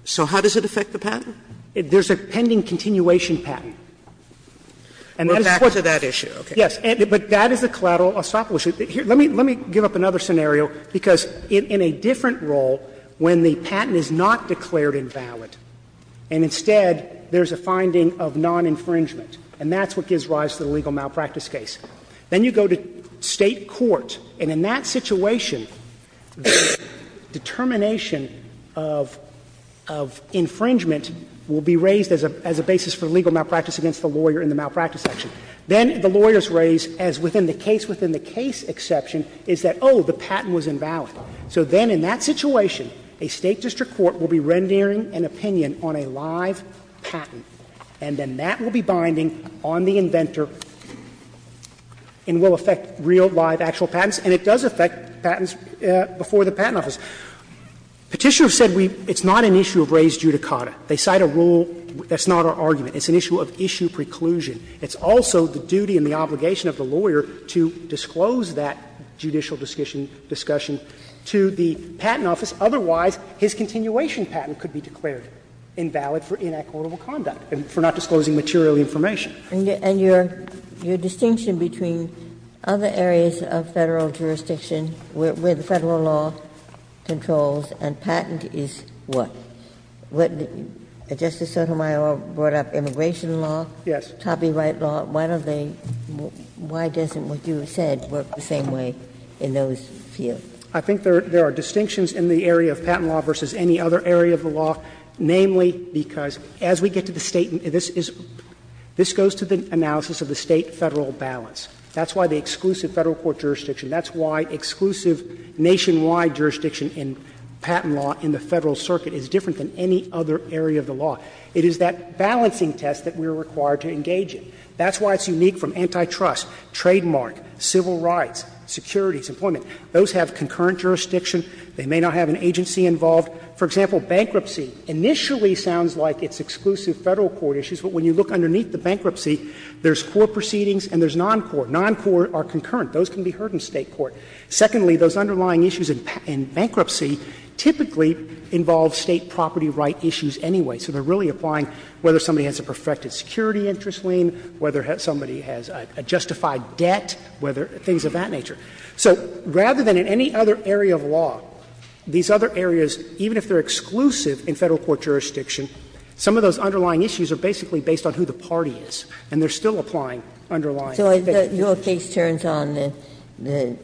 So how does it affect the patent? There's a pending continuation patent. And that is what's going to happen. But back to that issue. Yes. But that is a collateral estoppel issue. Let me give up another scenario, because in a different role, when the patent is not declared invalid and instead there's a finding of non-infringement, and that's what gives rise to the legal malpractice case. Then you go to State court, and in that situation, the determination of infringement will be raised as a basis for legal malpractice against the lawyer in the malpractice section. Then the lawyer's raise, as within the case-within-the-case exception, is that, oh, the patent was invalid. So then in that situation, a State district court will be rendering an opinion on a live patent, and then that will be binding on the inventor. And will affect real, live, actual patents. And it does affect patents before the Patent Office. Petitioners said we – it's not an issue of raised judicata. They cite a rule – that's not our argument. It's an issue of issue preclusion. It's also the duty and the obligation of the lawyer to disclose that judicial discussion to the Patent Office. Otherwise, his continuation patent could be declared invalid for inequitable conduct and for not disclosing material information. Ginsburg. And your distinction between other areas of Federal jurisdiction where the Federal law controls and patent is what? What Justice Sotomayor brought up, immigration law, copyright law, why don't they – why doesn't what you have said work the same way in those fields? I think there are distinctions in the area of patent law versus any other area of the law, and that goes to the analysis of the State-Federal balance. That's why the exclusive Federal court jurisdiction, that's why exclusive nationwide jurisdiction in patent law in the Federal circuit is different than any other area of the law. It is that balancing test that we are required to engage in. That's why it's unique from antitrust, trademark, civil rights, securities, employment. Those have concurrent jurisdiction. They may not have an agency involved. For example, bankruptcy initially sounds like it's exclusive Federal court issues, but when you look underneath the bankruptcy, there's court proceedings and there's non-court. Non-court are concurrent. Those can be heard in State court. Secondly, those underlying issues in bankruptcy typically involve State property right issues anyway. So they are really applying whether somebody has a perfected security interest lien, whether somebody has a justified debt, whether things of that nature. So rather than in any other area of law, these other areas, even if they are exclusive in Federal court jurisdiction, some of those underlying issues are basically based on who the party is, and they are still applying underlying jurisdiction. Ginsburg. So your case turns on the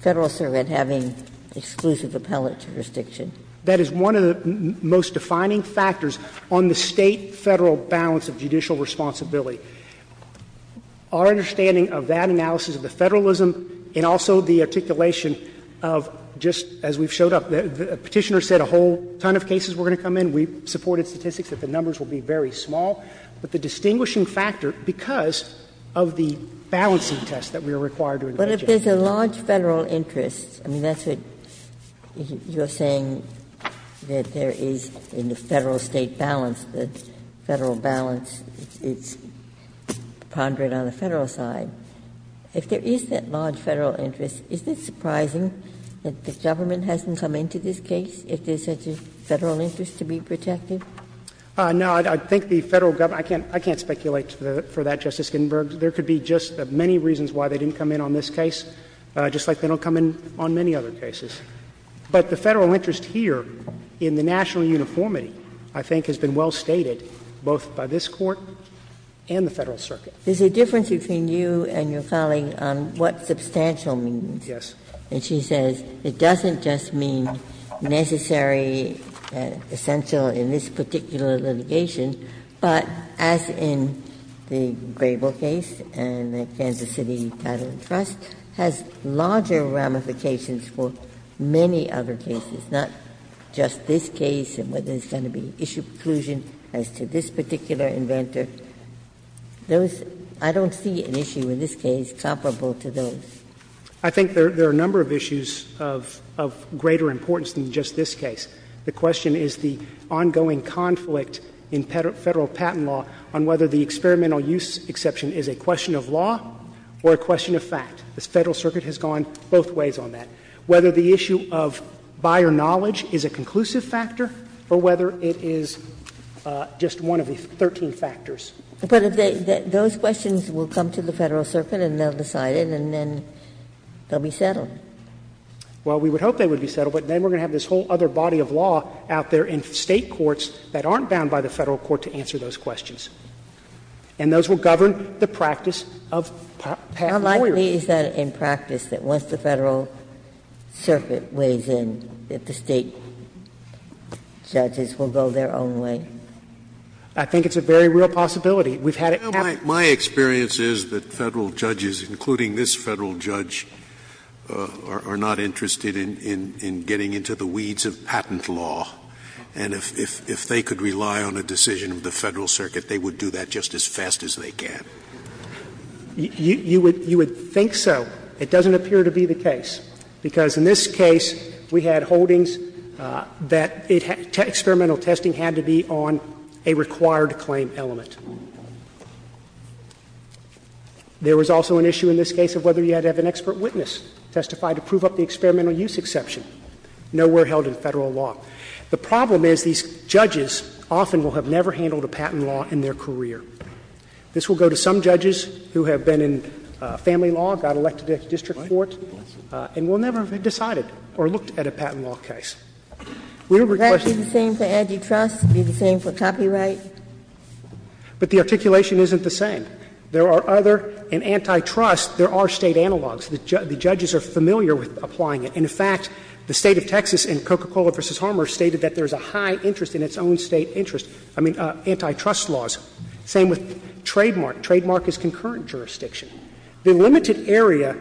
Federal circuit having exclusive appellate jurisdiction. That is one of the most defining factors on the State-Federal balance of judicial responsibility. Our understanding of that analysis of the Federalism and also the articulation of just, as we have showed up, the Petitioner said a whole ton of cases we are going to come in, we supported statistics that the numbers will be very small, but the distinguishing factor, because of the balancing test that we are required to engage in. Ginsburg. But if there's a large Federal interest, I mean, that's what you're saying, that there is in the Federal-State balance, the Federal balance, it's pondered on the Federal side. If there is that large Federal interest, is it surprising that the government hasn't come into this case? Is there such a Federal interest to be protected? No. I think the Federal government — I can't speculate for that, Justice Ginsburg. There could be just as many reasons why they didn't come in on this case, just like they don't come in on many other cases. But the Federal interest here in the national uniformity, I think, has been well stated both by this Court and the Federal circuit. There's a difference between you and your colleague on what substantial means. Yes. Ginsburg. And she says it doesn't just mean necessary, essential in this particular litigation, but as in the Grable case and the Kansas City Title and Trust, has larger ramifications for many other cases, not just this case and whether there's going to be issue preclusion as to this particular inventor. Those — I don't see an issue in this case comparable to those. I think there are a number of issues of greater importance than just this case. The question is the ongoing conflict in Federal patent law on whether the experimental use exception is a question of law or a question of fact. The Federal circuit has gone both ways on that. Whether the issue of buyer knowledge is a conclusive factor or whether it is just one of the 13 factors. But if they — those questions will come to the Federal circuit and they'll decide it, and then they'll be settled. Well, we would hope they would be settled, but then we're going to have this whole other body of law out there in State courts that aren't bound by the Federal court to answer those questions. And those will govern the practice of patent lawyers. How likely is that in practice that once the Federal circuit weighs in, that the State judges will go their own way? I think it's a very real possibility. We've had it happen. Scalia, my experience is that Federal judges, including this Federal judge, are not interested in getting into the weeds of patent law. And if they could rely on a decision of the Federal circuit, they would do that just as fast as they can. You would think so. It doesn't appear to be the case, because in this case, we had holdings that it — experimental use exception, nowhere held in Federal law. The problem is these judges often will have never handled a patent law in their career. This will go to some judges who have been in family law, got elected at the district court, and will never have decided or looked at a patent law case. We would request that they do the same thing for Agitrust, because that's the only thing that's going to happen. Ginsburg, are you saying for copyright? But the articulation isn't the same. There are other — in Antitrust, there are State analogs. The judges are familiar with applying it. In fact, the State of Texas in Coca-Cola v. Harmer stated that there's a high interest in its own State interest. I mean, Antitrust laws. Same with Trademark. Trademark is concurrent jurisdiction. The limited area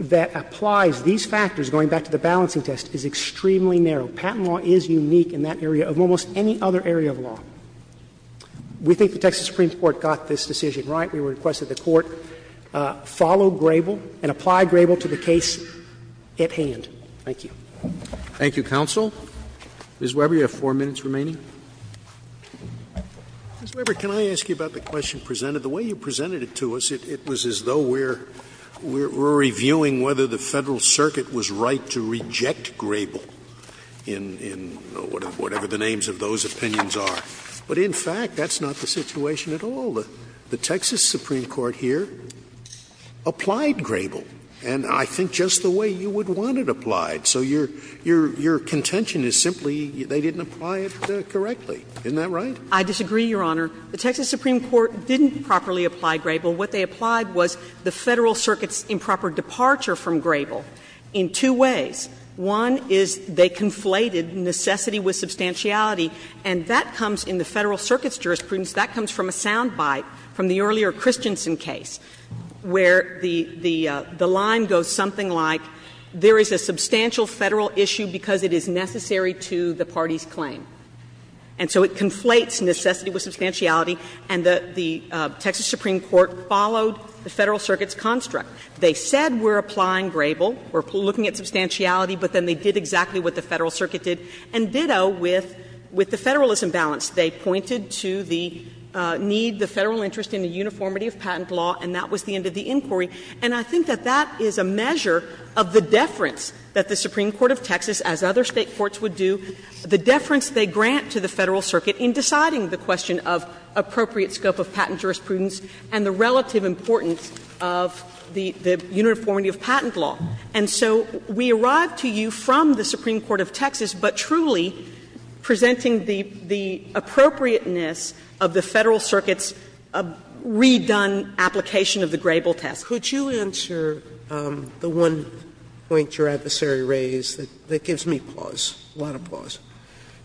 that applies these factors, going back to the balancing test, is extremely narrow. Patent law is unique in that area of almost any other area of law. We think the Texas Supreme Court got this decision right. We request that the Court follow Grable and apply Grable to the case at hand. Thank you. Roberts. Thank you, counsel. Ms. Weber, you have four minutes remaining. Ms. Weber, can I ask you about the question presented? The way you presented it to us, it was as though we're reviewing whether the Federal Circuit was right to reject Grable. In whatever the names of those opinions are. But in fact, that's not the situation at all. The Texas Supreme Court here applied Grable. And I think just the way you would want it applied. So your contention is simply they didn't apply it correctly. Isn't that right? I disagree, Your Honor. The Texas Supreme Court didn't properly apply Grable. What they applied was the Federal Circuit's improper departure from Grable in two ways. One is they conflated necessity with substantiality. And that comes in the Federal Circuit's jurisprudence, that comes from a sound bite from the earlier Christensen case, where the line goes something like, there is a substantial Federal issue because it is necessary to the party's claim. And so it conflates necessity with substantiality. And the Texas Supreme Court followed the Federal Circuit's construct. They said we're applying Grable, we're looking at substantiality, but then they did exactly what the Federal Circuit did. And ditto with the Federalism balance. They pointed to the need, the Federal interest in the uniformity of patent law, and that was the end of the inquiry. And I think that that is a measure of the deference that the Supreme Court of Texas, as other State courts would do, the deference they grant to the Federal Circuit in deciding the question of appropriate scope of patent jurisprudence and the relative importance of the uniformity of patent law. And so we arrive to you from the Supreme Court of Texas, but truly presenting the appropriateness of the Federal Circuit's redone application of the Grable test. Sotomayor, could you answer the one point your adversary raised that gives me pause, a lot of pause?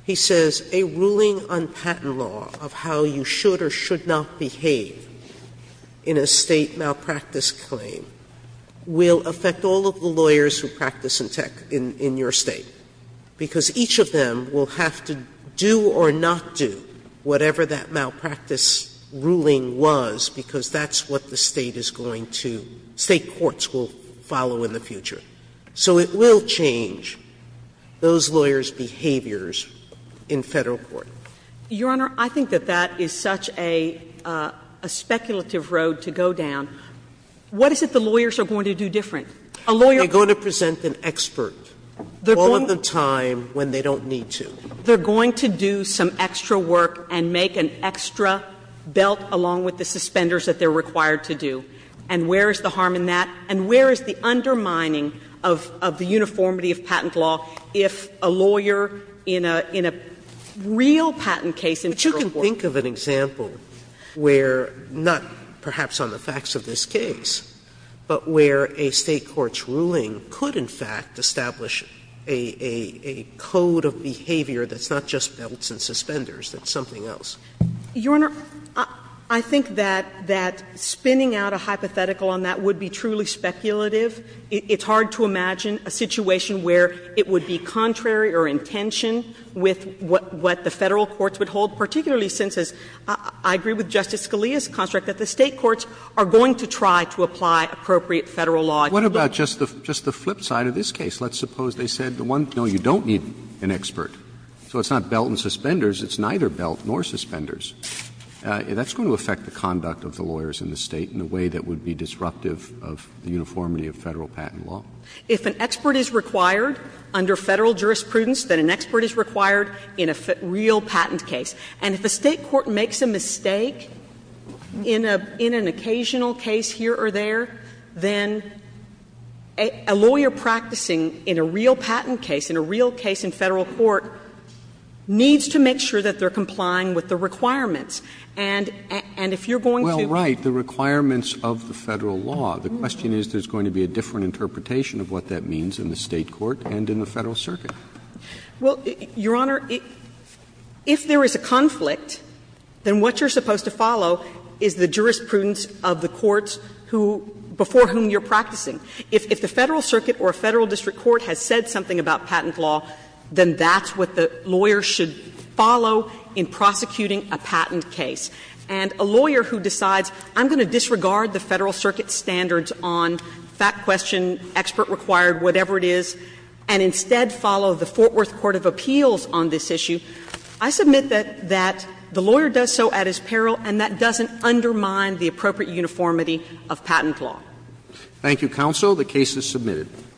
He says, A ruling on patent law of how you should or should not behave in a State malpractice claim will affect all of the lawyers who practice in your State, because each of them will have to do or not do whatever that malpractice ruling was, because that's what the State is going to — State courts will follow in the future. So it will change those lawyers' behaviors in Federal court. Your Honor, I think that that is such a speculative road to go down. What is it the lawyers are going to do different? A lawyer — They're going to present an expert all of the time when they don't need to. They're going to do some extra work and make an extra belt along with the suspenders that they're required to do. And where is the harm in that? And where is the undermining of the uniformity of patent law if a lawyer in a real patent case in Federal court — But you can think of an example where, not perhaps on the facts of this case, but where a State court's ruling could, in fact, establish a code of behavior that's not just belts and suspenders, that's something else. Your Honor, I think that — that spinning out a hypothetical on that would be truly speculative. It's hard to imagine a situation where it would be contrary or in tension with what the Federal courts would hold, particularly since, as I agree with Justice Scalia's construct, that the State courts are going to try to apply appropriate Federal law. What about just the flip side of this case? Let's suppose they said, no, you don't need an expert, so it's not belt and suspenders. It's neither belt nor suspenders. That's going to affect the conduct of the lawyers in the State in a way that would be disruptive of the uniformity of Federal patent law. If an expert is required under Federal jurisprudence, then an expert is required in a real patent case. And if a State court makes a mistake in a — in an occasional case here or there, then a lawyer practicing in a real patent case, in a real case in Federal court, needs to make sure that they're complying with the requirements. And if you're going to — Roberts. Well, right, the requirements of the Federal law. The question is, there's going to be a different interpretation of what that means in the State court and in the Federal circuit. Well, Your Honor, if there is a conflict, then what you're supposed to follow is the jurisprudence of the courts who — before whom you're practicing. If the Federal circuit or a Federal district court has said something about patent law, then that's what the lawyer should follow in prosecuting a patent case. And a lawyer who decides, I'm going to disregard the Federal circuit's standards on fact question, expert required, whatever it is, and instead follow the Fort Worth court of appeals on this issue, I submit that — that the lawyer does so at his peril, and that doesn't undermine the appropriate uniformity of patent law. Thank you, counsel. The case is submitted.